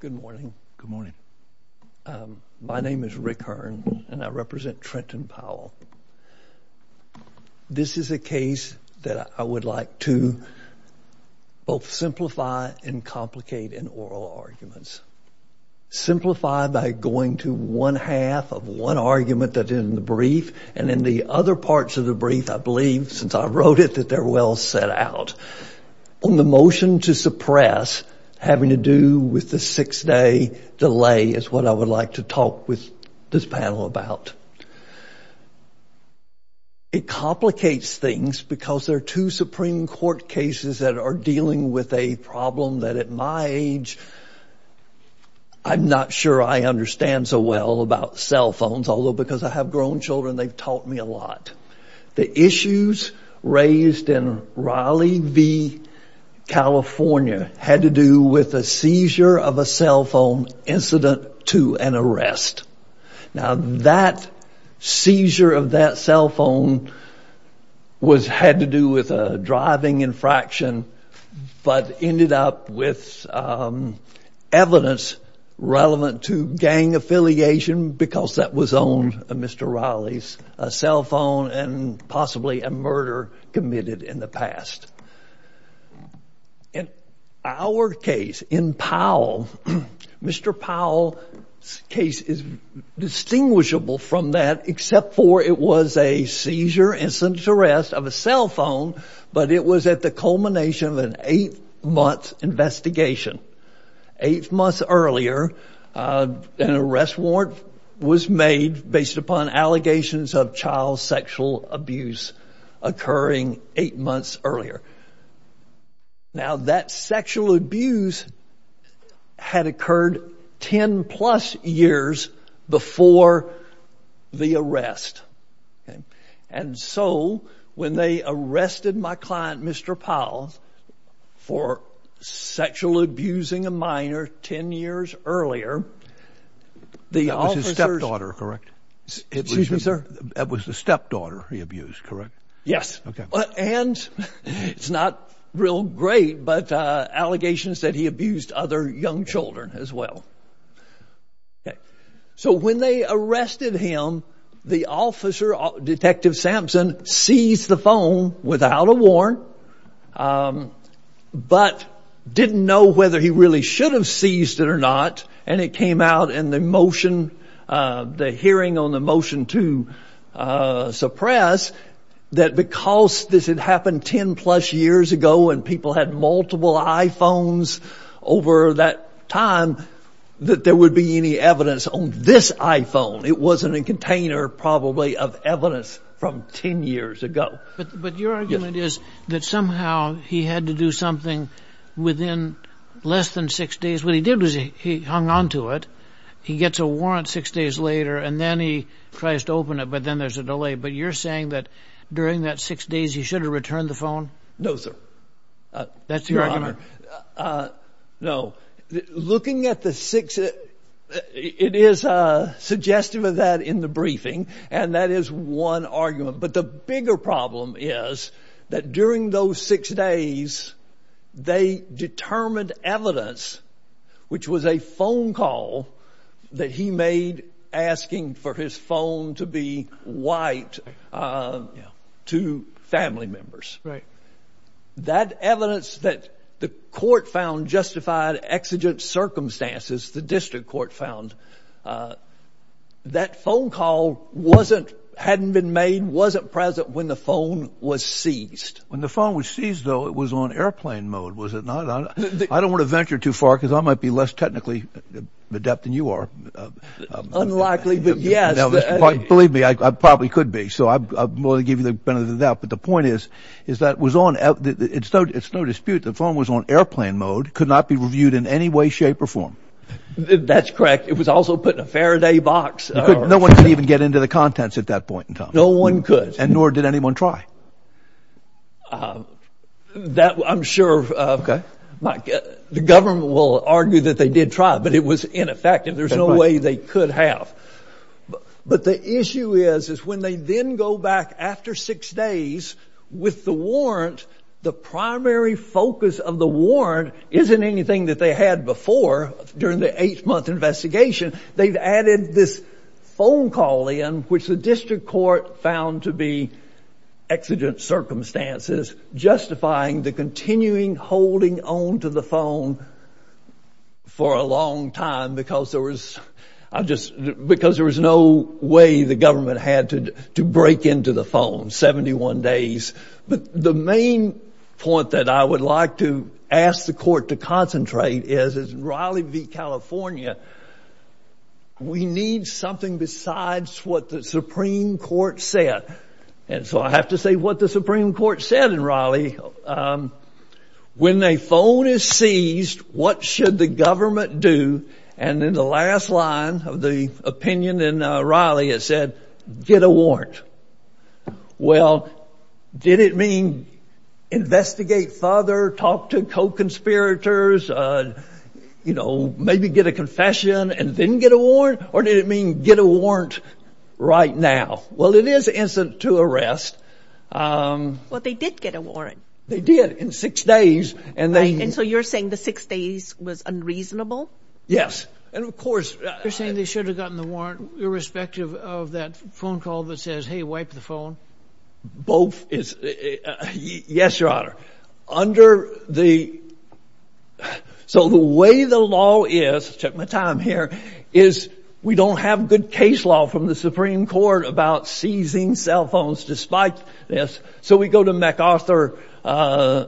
Good morning. Good morning. My name is Rick Hearn and I represent Trenton Powell. This is a case that I would like to both simplify and complicate in oral arguments. Simplify by going to one half of one argument that in the brief and in the other parts of the brief I believe since I wrote it that they're well set out. On the motion to suppress having to do with the six-day delay is what I would like to talk with this panel about. It complicates things because they're two Supreme Court cases that are dealing with a problem that at my age I'm not sure I understand so well about cell phones although because I have grown children they've taught me a lot. The issues raised in Raleigh v. California had to do with a seizure of a cell phone incident to an arrest. Now that seizure of that cell phone was had to do with a driving infraction but ended up with evidence relevant to gang affiliation because that was on a Mr. Raleigh's cell phone and possibly a murder committed in the past. In our case in Powell, Mr. Powell's case is distinguishable from that except for it was a seizure incident to arrest of a cell phone but it was at the culmination of an eight-month investigation. Eight months earlier an arrest warrant was made based upon allegations of child sexual abuse occurring eight months earlier. Now that sexual abuse had occurred ten plus years before the arrest and so when they arrested my client Mr. Powell for sexual abusing a minor ten years earlier. That was his stepdaughter, correct? Excuse me, sir. That was the stepdaughter he abused, correct? Yes, and it's not real great but allegations that he abused other young children as well. So when they arrested him the officer, Detective Sampson, seized the phone without a warrant but didn't know whether he really should have seized it or not and it came out in the motion, the hearing on the motion to suppress that because this had happened ten plus years ago and people had multiple iPhones over that time that there would be any evidence on this iPhone. It wasn't a container probably of evidence from ten years ago. But your argument is that somehow he had to do something within less than six days. What he did was he hung on to it. He gets a warrant six days later and then he tries to open it but then there's a delay but you're saying that during that six days he should have returned the phone? No, sir. That's your argument? No. Looking at the six, it is a suggestive of that in the briefing and that is one argument but the bigger problem is that during those six days they determined evidence which was a Right. That evidence that the court found justified exigent circumstances, the district court found, that phone call wasn't, hadn't been made, wasn't present when the phone was seized. When the phone was seized, though, it was on airplane mode, was it not? I don't want to venture too far because I might be less technically adept than you are. Unlikely, but yes. Believe me, I probably could be so I'll give you the benefit of the doubt but the point is is that was on, it's no dispute, the phone was on airplane mode, could not be reviewed in any way shape or form. That's correct. It was also put in a Faraday box. No one could even get into the contents at that point in time. No one could. And nor did anyone try. That, I'm sure, the government will argue that they did try but it was ineffective. There's no way they could have. But the issue is is when they then go back after six days with the warrant, the primary focus of the warrant isn't anything that they had before during the eight-month investigation. They've added this phone call in which the district court found to be exigent circumstances justifying the continuing holding on to the phone for a long time because there was, I just, because there was no way the government had to break into the phone, 71 days. But the main point that I would like to ask the court to concentrate is in Raleigh v. California, we need something besides what the Supreme Court said. And so I have to say what the Supreme Court said in Raleigh. When a phone is seized, what should the government do? And in the last line of the opinion in Raleigh, it said, get a warrant. Well, did it mean investigate further, talk to co-conspirators, you know, maybe get a confession and then get a warrant? Or did it mean get a warrant right now? Well, it is instant to arrest. Well, they did get a warrant. They did, in six days. And so you're saying the six days was unreasonable? Yes. And of course. You're saying they should have gotten the warrant irrespective of that phone call that says, hey, wipe the phone? Both is, yes, Your Honor. Under the, so the way the law is, check my time here, is we don't have good case law from the Supreme Court about seizing cell phones despite this. So we go to McArthur,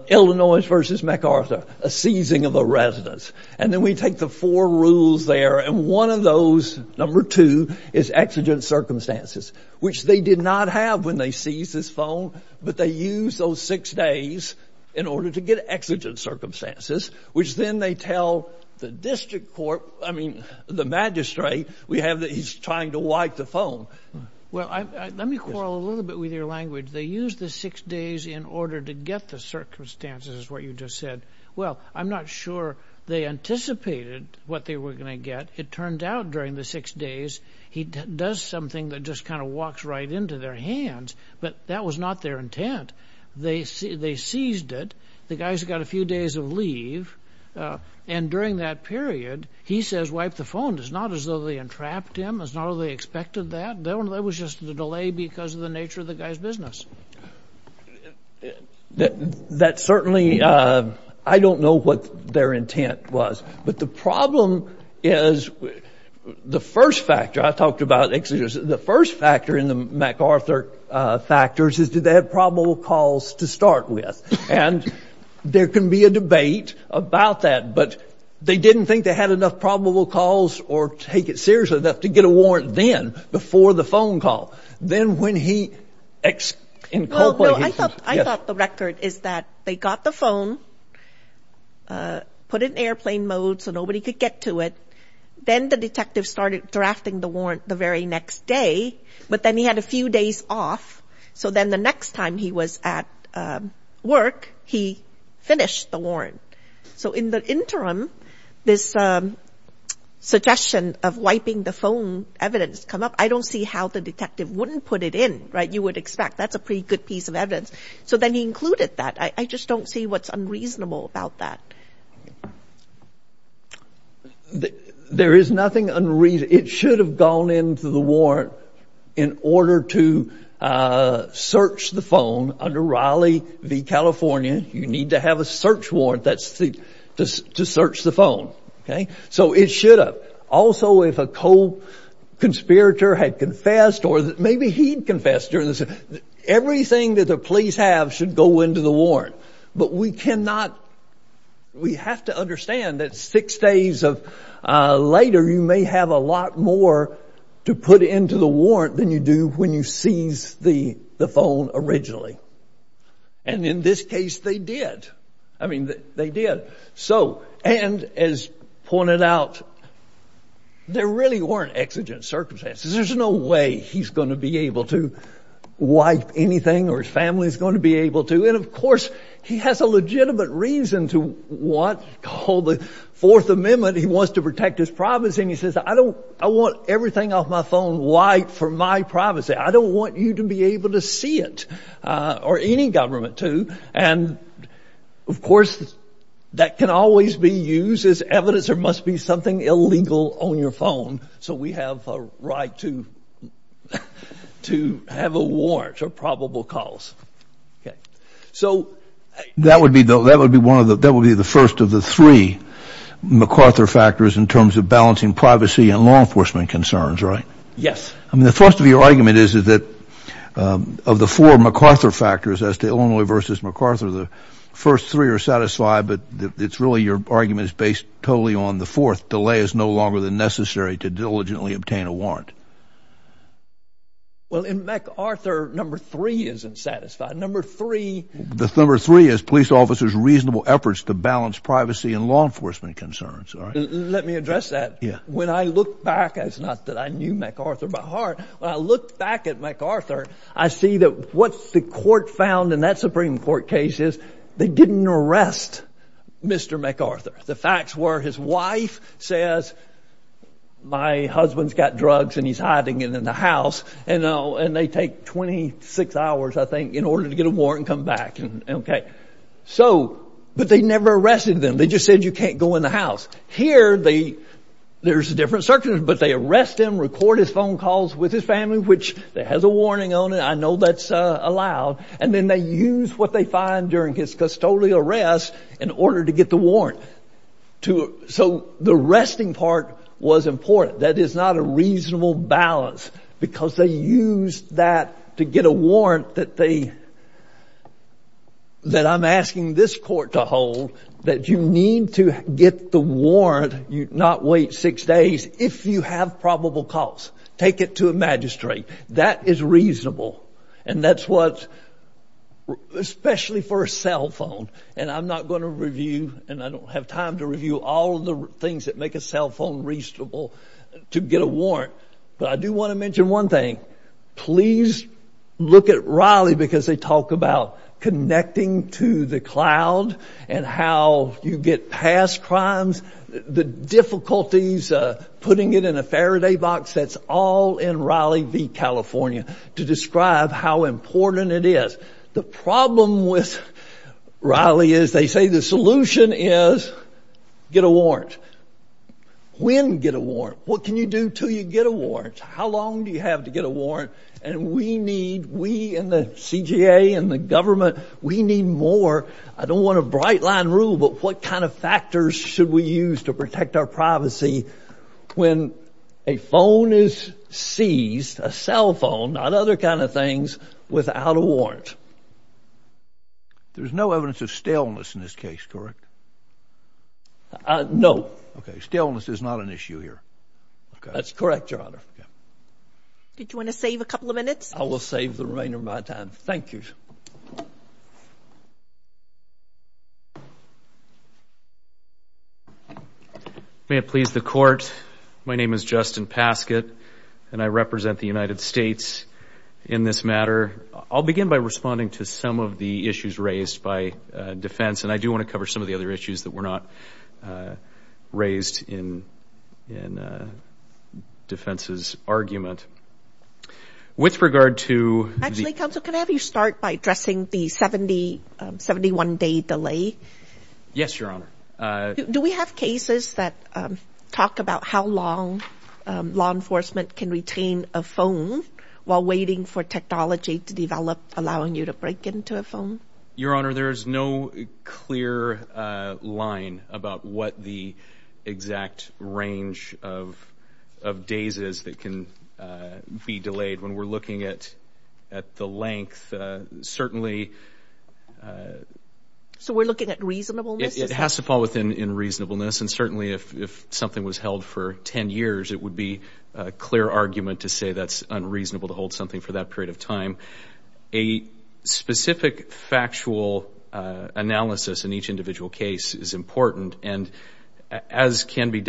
Illinois versus McArthur, a seizing of a residence. And then we take the four rules there. And one of those, number two, is exigent circumstances, which they did not have when they seized this phone. But they used those six days in order to get exigent circumstances, which then they tell the district court, I mean, the magistrate, we have that he's trying to wipe the phone. Well, let me quarrel a little bit with your language. They used the six days in order to get the circumstances, what you just said. Well, I'm not sure they anticipated what they were going to get. It turned out during the six days, he does something that just kind of walks right into their hands. But that was not their intent. They seized it. The during that period, he says wipe the phone. It's not as though they entrapped him. It's not as though they expected that. That was just a delay because of the nature of the guy's business. That certainly, I don't know what their intent was. But the problem is the first factor, I talked about exigent, the first factor in the McArthur factors is do they have probable calls to start with? And there can be a debate about that, but they didn't think they had enough probable calls or take it seriously enough to get a warrant then, before the phone call. Then when he in Copeland, I thought the record is that they got the phone, put it in airplane mode so nobody could get to it. Then the detective started drafting the warrant the very next day. But then he had a few days off. So then the next time he was at work, he finished the warrant. So in the interim, this suggestion of wiping the phone evidence come up. I don't see how the detective wouldn't put it in, right? You would expect that's a pretty good piece of evidence. So then he included that. I just don't see what's unreasonable about that. There is nothing unreasonable. It should have gone into the warrant in order to search the phone under Raleigh v. California. You need to have a search warrant to search the phone. So it should have. Also, if a co-conspirator had confessed or maybe he'd confessed, everything that the police have should go into the warrant. But we cannot, we have to understand that six days later, you may have a lot more to put into the warrant than you do when you seize the phone originally. And in this case, they did. I mean, they did. So, and as pointed out, there really weren't exigent circumstances. There's no way he's going to be able to wipe anything or his family's going to be able to. And of course, he has a legitimate reason to want, called the Fourth Amendment, he wants to protect his privacy. And he says, I don't, I want everything off my phone wiped for my privacy. I don't want you to be able to see it or any government to. And of course, that can always be used as evidence. There must be something illegal on your phone. So we have a right to have a warrant or privacy probable calls. Okay. So that would be, that would be one of the, that would be the first of the three MacArthur factors in terms of balancing privacy and law enforcement concerns, right? Yes. I mean, the first of your argument is, is that of the four MacArthur factors as to Illinois versus MacArthur, the first three are satisfied, but it's really your argument is based totally on the fourth delay is no longer than necessary to diligently obtain a warrant. Well, in MacArthur, number three isn't satisfied. Number three, the number three is police officers, reasonable efforts to balance privacy and law enforcement concerns. Let me address that. Yeah. When I look back, it's not that I knew MacArthur by heart. When I looked back at MacArthur, I see that what the court found in that Supreme Court case is they didn't arrest Mr. MacArthur. The facts were his wife says, my husband is a criminal and he's got drugs and he's hiding it in the house. And they take 26 hours, I think, in order to get a warrant and come back. Okay. So, but they never arrested them. They just said, you can't go in the house. Here, there's a different circumstances, but they arrest him, record his phone calls with his family, which has a warning on it. I know that's allowed. And then they use what they find during his custodial arrest in order to get the warrant. So, the arresting part was important. That is not a reasonable balance because they used that to get a warrant that they, that I'm asking this court to hold, that you need to get the warrant, not wait six days, if you have probable cause. Take it to a magistrate. That is reasonable. And that's what, especially for a cell phone, and I'm not going to review and I don't have time to review all of the things that make a cell phone reasonable to get a warrant. But I do want to mention one thing. Please look at Raleigh because they talk about connecting to the cloud and how you get past crimes, the difficulties, putting it in a Faraday box. That's all in Raleigh v. California to describe how important it is. The problem with Raleigh is they say the solution is get a warrant. When get a warrant? What can you do until you get a warrant? How long do you have to get a warrant? And we need, we in the CGA and the government, we need more. I don't want a bright line rule, but what kind of factors should we use to protect our privacy when a phone is seized, a cell phone, not other kind of things, without a warrant? There's no evidence of staleness in this case, correct? No. Staleness is not an issue here. That's correct, Your Honor. Did you want to save a couple of minutes? I will save the remainder of my time. Thank you. May it please the Court, my name is Justin Paskett, and I represent the United States in this matter. I'll begin by responding to some of the issues raised by defense, and I do want to cover some of the other issues that were not raised in defense's argument. With regard to the counsel, can I have you start by addressing the 70, 71 day delay? Yes, Your Honor. Do we have cases that talk about how long law enforcement can retain a phone while waiting for technology to develop, allowing you to break into a phone? Your Honor, there is no clear line about what the exact range of days is that can be delayed. When we're looking at the length, certainly... So we're looking at reasonableness? It has to fall within reasonableness, and certainly if something was held for 10 years, it would be a clear argument to say that's unreasonable to hold something for that period of time. A specific factual analysis in each individual case is important, and as can be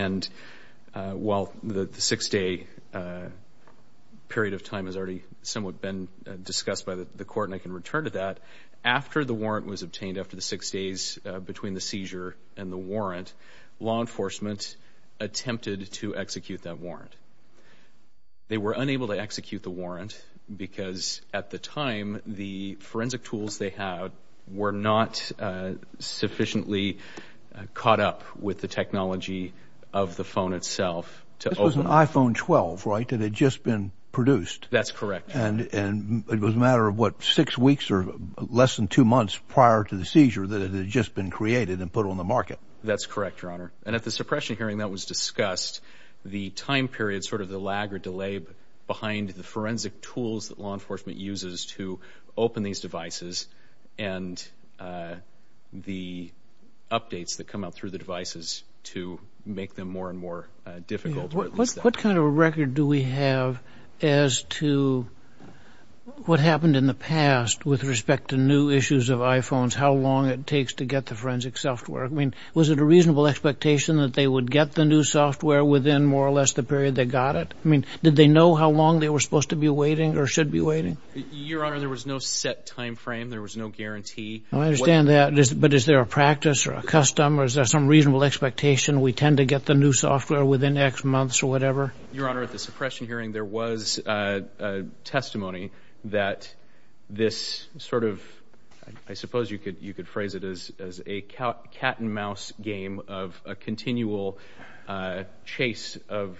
seen, while the 6 day period of time has already somewhat been discussed by the court, and I can return to that, after the warrant was obtained, after the 6 days between the seizure and the warrant, law enforcement attempted to execute that warrant. They were unable to execute the warrant because at the time, the forensic tools they had were not sufficiently caught up with the technology of the phone itself. This was an iPhone 12, right, that had just been produced? That's correct, Your Honor. And it was a matter of what, 6 weeks or less than 2 months prior to the seizure that it had just been created and put on the market? That's correct, Your Honor. And at the suppression hearing that was discussed, the time period, sort of the lag or delay behind the forensic tools that law enforcement uses to open these devices, and the updates that come out through the devices to make them more and more difficult. What kind of a record do we have as to what happened in the past with respect to new issues of iPhones, how long it takes to get the forensic software? I mean, was it a reasonable expectation that they would get the new software within more or less the period they got it? I mean, did they know how long they were supposed to be waiting or should be waiting? Your Honor, there was no set time frame, there was no guarantee. I understand that, but is there a practice or a custom or is there some reasonable expectation we tend to get the new software within X months or whatever? Your Honor, at the suppression hearing there was testimony that this sort of, I suppose you could phrase it as a cat and mouse game of a continual chase of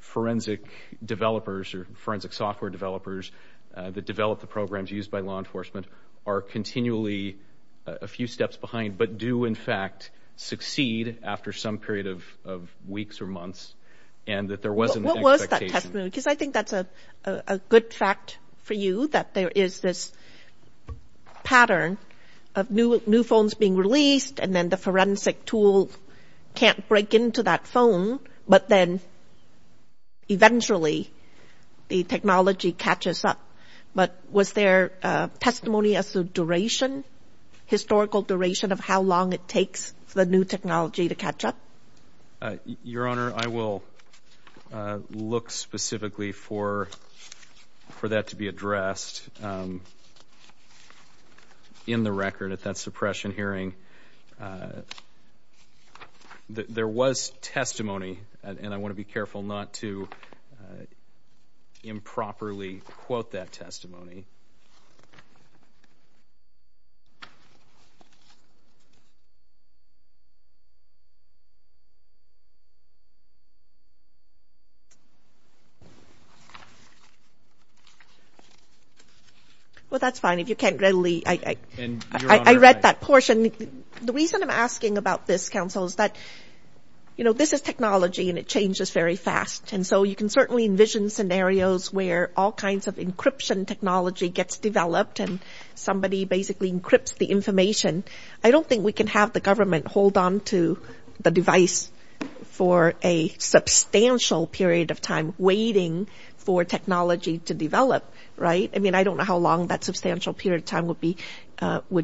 forensic developers or forensic software developers that develop the programs used by law enforcement are continually a few steps behind, but do in fact succeed after some period of weeks or months and that there wasn't an expectation. What was that testimony? Because I think that's a good fact for you that there is this pattern of new phones being released and then the forensic tool can't break into that phone, but then eventually the technology catches up. But was there testimony as to duration, historical duration of how long it takes for the new technology to catch up? Your Honor, I will look specifically for that to be addressed. In the record at that suppression hearing there was testimony, and I want to be careful not to improperly quote that testimony. Well, that's fine. If you can't readily, I read that portion. The reason I'm asking about this, Counsel, is that this is technology and it changes very fast. And so you can certainly envision scenarios where all kinds of encryption technology gets developed and somebody basically encrypts the information. I don't think we can have the government hold on to the device for a substantial period of time waiting for technology to develop, right? I mean, I don't know how long that substantial period of time would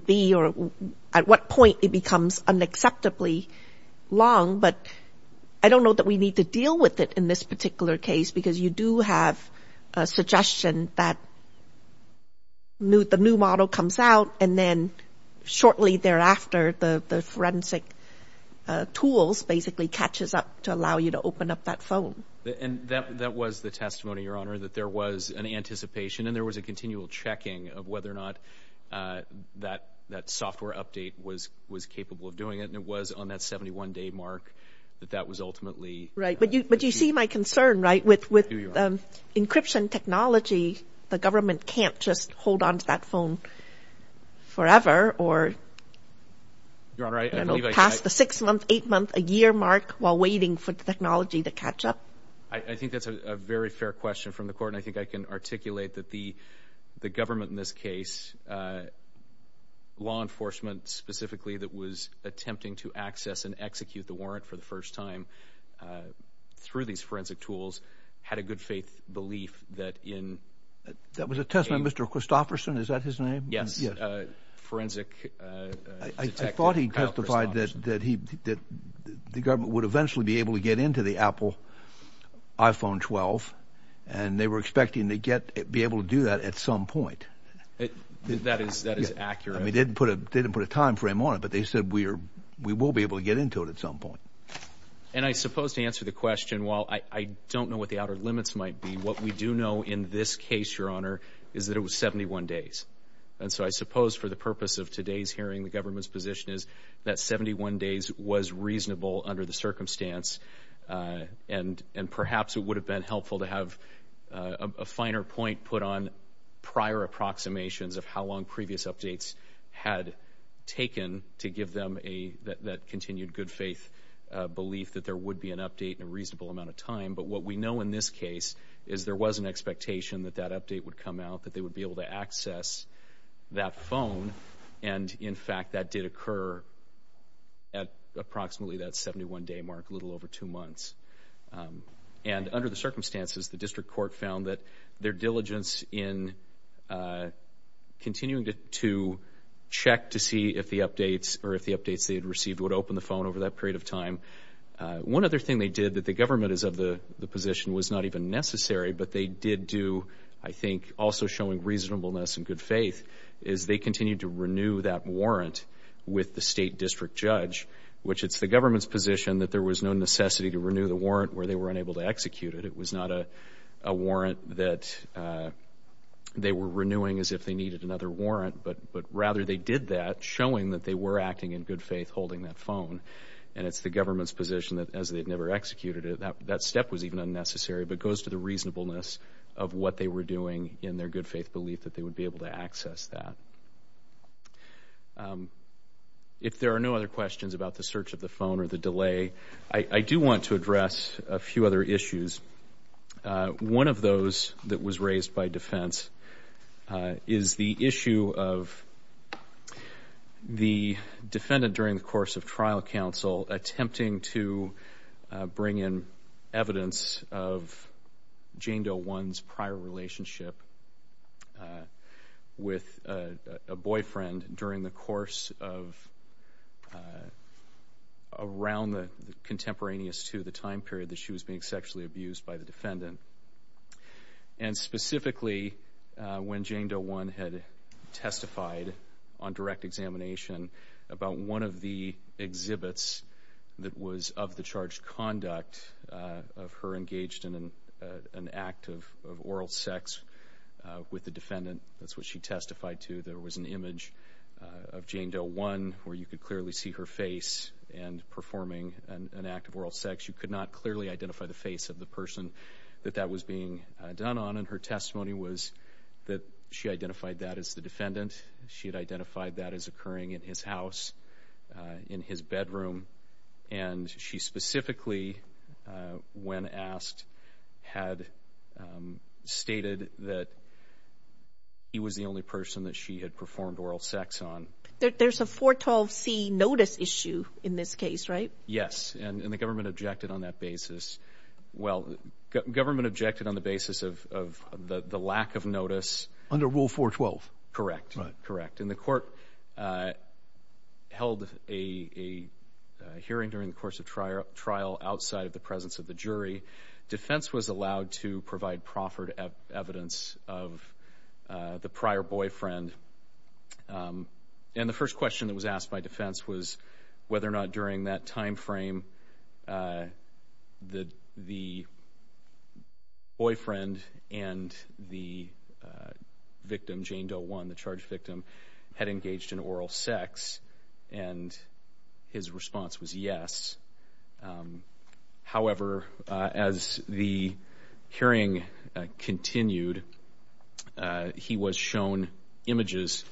be or at what point it becomes unacceptably long, but I don't know that we need to deal with it in this particular case because you do have a suggestion that the new model comes out and then shortly thereafter the forensic tools basically catches up to allow you to open up that phone. And that was the testimony, Your Honor, that there was an anticipation and there was a continual checking of whether or not that software update was capable of doing it. And it was on that 71-day mark that that was ultimately... But encryption technology, the government can't just hold on to that phone forever or... Your Honor, I believe I...... you know, past the 6-month, 8-month, a year mark while waiting for the technology to catch up? I think that's a very fair question from the Court and I think I can articulate that the government in this case, law enforcement specifically, that was attempting to access and execute the warrant for the first time through these forensic tools, had a good faith belief that in... That was a testimony of Mr. Christofferson, is that his name? Yes. Forensic... I thought he testified that he... that the government would eventually be able to get into the Apple iPhone 12 and they were expecting to get... be able to do that at some point. That is... that is accurate. I mean, they didn't put a... they didn't put a time frame on it, but they said we are will be able to get into it at some point. And I suppose to answer the question, while I don't know what the outer limits might be, what we do know in this case, Your Honor, is that it was 71 days. And so I suppose for the purpose of today's hearing, the government's position is that 71 days was reasonable under the circumstance and perhaps it would have been helpful to have a finer point put on prior approximations of how long previous updates had taken to give them a... that continued good faith belief that there would be an update in a reasonable amount of time. But what we know in this case is there was an expectation that that update would come out, that they would be able to access that phone. And in fact, that did occur at approximately that 71-day mark, a little over two months. And under the circumstances, the District Court found that their diligence in continuing to check to see if the updates or if the updates they had received would open the phone over that period of time. One other thing they did that the government is of the position was not even necessary, but they did do, I think, also showing reasonableness and good faith, is they continued to renew that warrant with the State District Judge, which it's the government's position that there was no necessity to renew the warrant where they were unable to execute it. It was not a warrant that they were renewing as if they needed another warrant, but rather they did that, showing that they were acting in good faith, holding that phone. And it's the government's position that as they've never executed it, that step was even unnecessary, but goes to the reasonableness of what they were doing in their good faith belief that they would be able to access that. If there are no other questions about the search of the phone or the delay, I do want to address a few other issues. One of those that was raised by defense is the issue of the defendant during the course of trial counsel attempting to bring in evidence of Jane Doe One's prior relationship with a boyfriend during the course of around the contemporaneous to the time period that she was being sexually abused by the defendant. And specifically, when Jane Doe One had testified on direct examination about one of the exhibits that was of the charged conduct of her engaged in an act of oral sex with the defendant, that's what she testified to, there was an image of Jane Doe One where you could clearly see her face and performing an act of oral sex. You could not clearly identify the face of the person that that was being done on, and her testimony was that she identified that as the defendant. She had identified that as occurring in his house, in his bedroom. And she specifically, when asked, had stated that he was the only person that she had performed oral sex on. There's a 412c notice issue in this case, right? Yes, and the government objected on that basis. Well, government objected on the basis of the lack of notice. Under Rule 412. Correct. Correct. And the court held a hearing during the course of trial outside of the presence of the jury. Defense was allowed to provide proffered evidence of the prior boyfriend, and the first question that was asked by defense was whether or not during that time frame, the boyfriend and the victim, Jane Doe One, the charged victim, had engaged in oral sex, and his response was yes. However, as the hearing continued, he was shown images,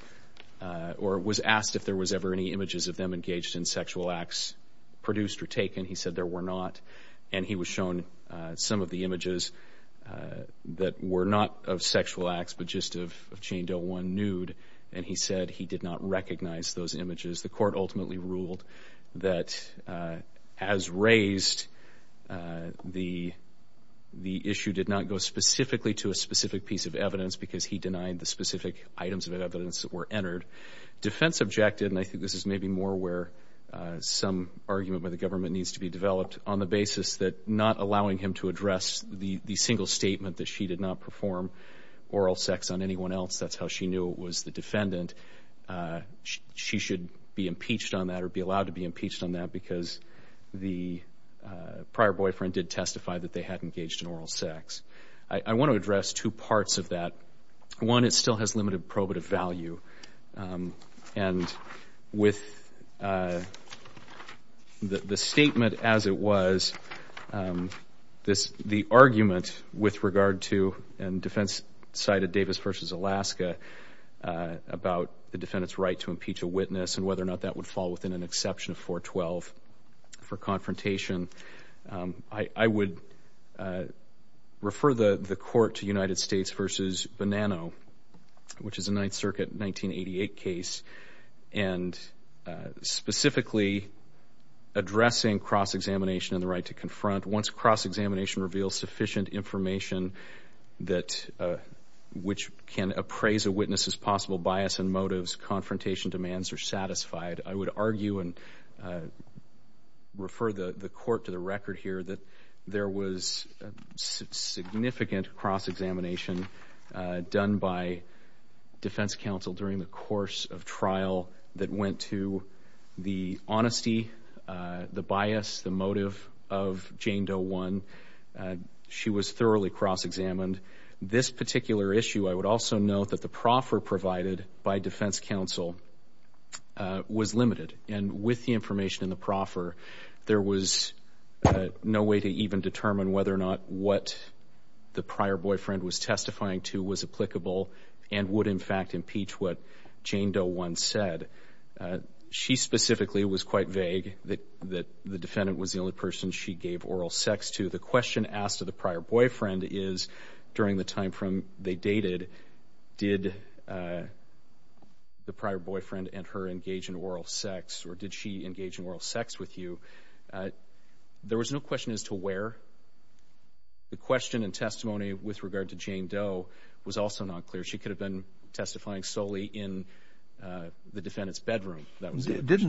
or was asked if there was ever any images of them engaged in sexual acts produced or taken. He said there were not, and he was shown some of the images that were not of sexual acts but just of Jane Doe One nude, and he said he did not recognize those images. The court ultimately ruled that as raised, the issue did not go specifically to a specific piece of evidence because he denied the specific items of evidence that were entered. Defense objected, and I think this is maybe more where some argument by the government needs to be developed on the basis that not allowing him to address the single statement that she did not perform oral sex on anyone else, that's how she knew it was the defendant, she should be impeached on that or be allowed to be impeached on that because the prior boyfriend did testify that they had engaged in oral sex. I want to address two parts of that. One, it still has limited probative value, and with the statement as it was, the argument with regard to, and defense cited Davis v. Alaska about the defendant's right to impeach a witness and whether or not that would fall within an exception of 412 for confrontation, I would refer the court to United States v. Bonanno, which is a Ninth Circuit 1988 case, and specifically addressing cross-examination and the right to confront. Once cross-examination reveals sufficient information that which can appraise a witness as possible bias and motives, confrontation demands are satisfied, I would argue and refer the court to the record here that there was significant cross-examination done by defense counsel during the course of trial that went to the honesty, the bias, the motive of Jane Doe 1. She was thoroughly cross-examined. This particular issue, I would also note that the proffer provided by defense counsel was limited, and with the information in the proffer, there was no way to even determine whether or not what the prior boyfriend was testifying to was applicable and would in fact impeach what Jane Doe 1 said. She specifically was quite vague that the defendant was the only person she gave oral sex to. The question asked to the prior boyfriend is, during the time from they dated, did the prior boyfriend and her engage in oral sex, or did she engage in oral sex with you? There was no question as to where. The question and testimony with regard to Jane Doe was also not clear. She could have been testifying solely in the defendant's bedroom, if that was the case. Didn't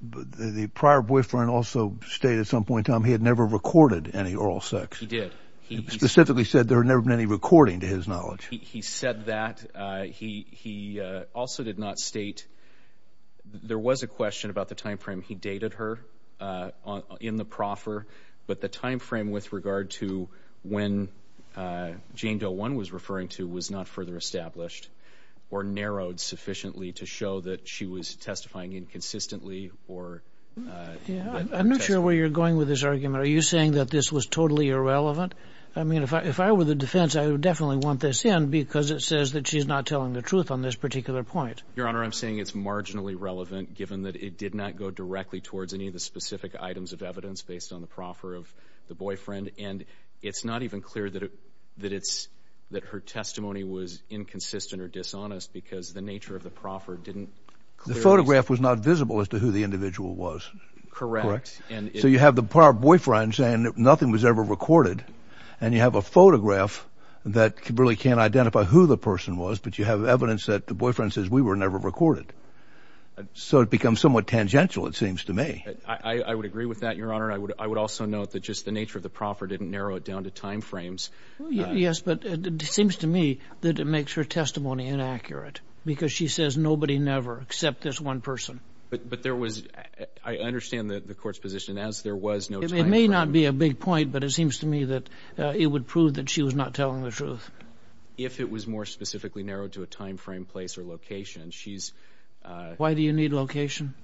the prior boyfriend also state at some point in time he had never recorded any oral sex? He did. He specifically said there had never been any recording to his knowledge. He said that. He also did not state, there was a question about the time frame he dated her in the proffer, but the time frame with regard to when Jane Doe 1 was referring to was not further established or narrowed sufficiently to show that she was testifying inconsistently or that... I'm not sure where you're going with this argument. Are you saying that this was totally irrelevant? I mean, if I were the defense, I would definitely want this in because it says that she's not telling the truth on this particular point. Your Honor, I'm saying it's marginally relevant given that it did not go directly towards any of the specific items of evidence based on the proffer of the boyfriend, and it's not even clear that her testimony was inconsistent or dishonest because the nature of the proffer didn't... The photograph was not visible as to who the individual was. Correct. So you have the boyfriend saying nothing was ever recorded, and you have a photograph that really can't identify who the person was, but you have evidence that the boyfriend says we were never recorded. So it becomes somewhat tangential, it seems to me. I would agree with that, Your Honor. I would also note that just the nature of the proffer didn't narrow it down to time frames. Yes, but it seems to me that it makes her testimony inaccurate because she says nobody never except this one person. But there was... I understand the court's position. As there was no time frame... It may not be a big point, but it seems to me that it would prove that she was not telling the truth. If it was more specifically narrowed to a time frame, place, or location, she's... Why do you need location?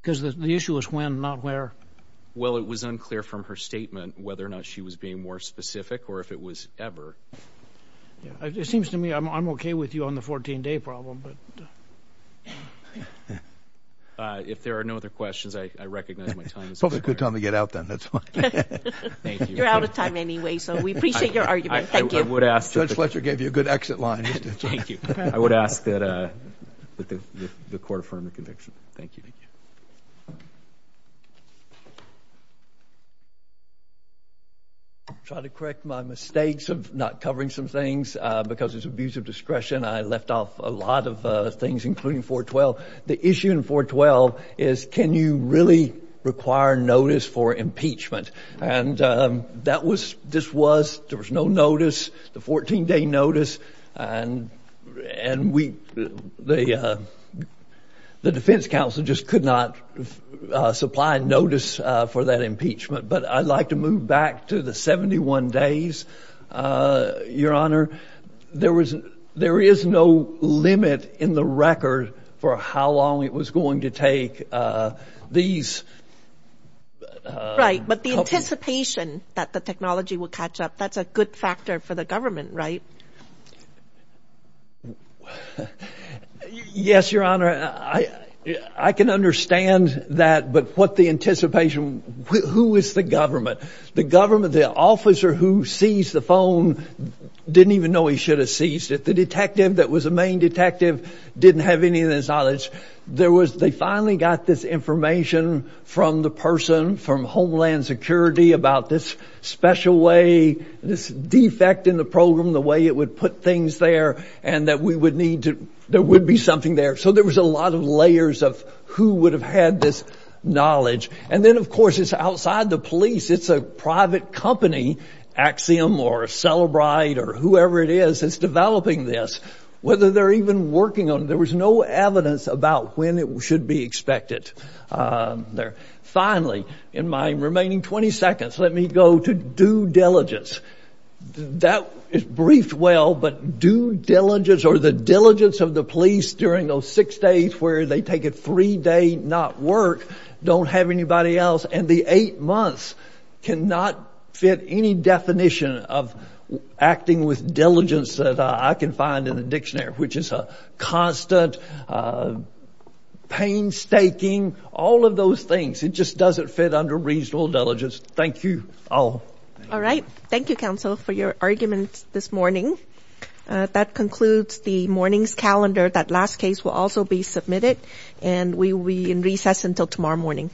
Because the issue is when, not where. Well, it was unclear from her statement whether or not she was being more specific or if it was ever. It seems to me I'm okay with you on the 14-day problem, but... If there are no other questions, I recognize my time is up. Probably a good time to get out then. That's fine. Thank you. You're out of time anyway, so we appreciate your argument. Thank you. I would ask... Judge Fletcher gave you a good exit line. Thank you. I would ask that the court affirm the conviction. Thank you. Thank you. I'll try to correct my mistakes of not covering some things. Because it's abuse of discretion, I left off a lot of things, including 412. The issue in 412 is can you really require notice for impeachment? That was... This was... There was no notice. The 14-day notice, and we... The defense counsel just could not supply notice for that impeachment. But I'd like to move back to the 71 days, Your Honor. There is no limit in the record for how long it was going to take these... Right, but the anticipation that the technology would catch up, that's a good factor for the government, right? Yes, Your Honor. I can understand that, but what the anticipation... Who is the government? The government, the officer who seized the phone, didn't even know he should have seized it. The detective that was the main detective didn't have any of this knowledge. There was... They finally got this information from the person, from Homeland Security, about this special way, this defect in the program, the way it would put things there, and that we would need to... There would be something there. So there was a lot of layers of who would have had this knowledge. And then, of course, it's outside the police. It's a private company, Axiom or Celebrite or whoever it is that's developing this. Whether they're even working on... There was no evidence about when it should be expected there. Finally, in my remaining 20 seconds, let me go to due diligence. That is briefed well, but due diligence or the diligence of the police during those six days where they take a three-day not work, don't have anybody else, and the eight months cannot fit any definition of acting with diligence that I can find in the dictionary, which is constant, painstaking, all of those things. It just doesn't fit under reasonable diligence. Thank you all. All right. Thank you, counsel, for your arguments this morning. That concludes the morning's calendar. That last case will also be submitted, and we will be in recess until tomorrow morning.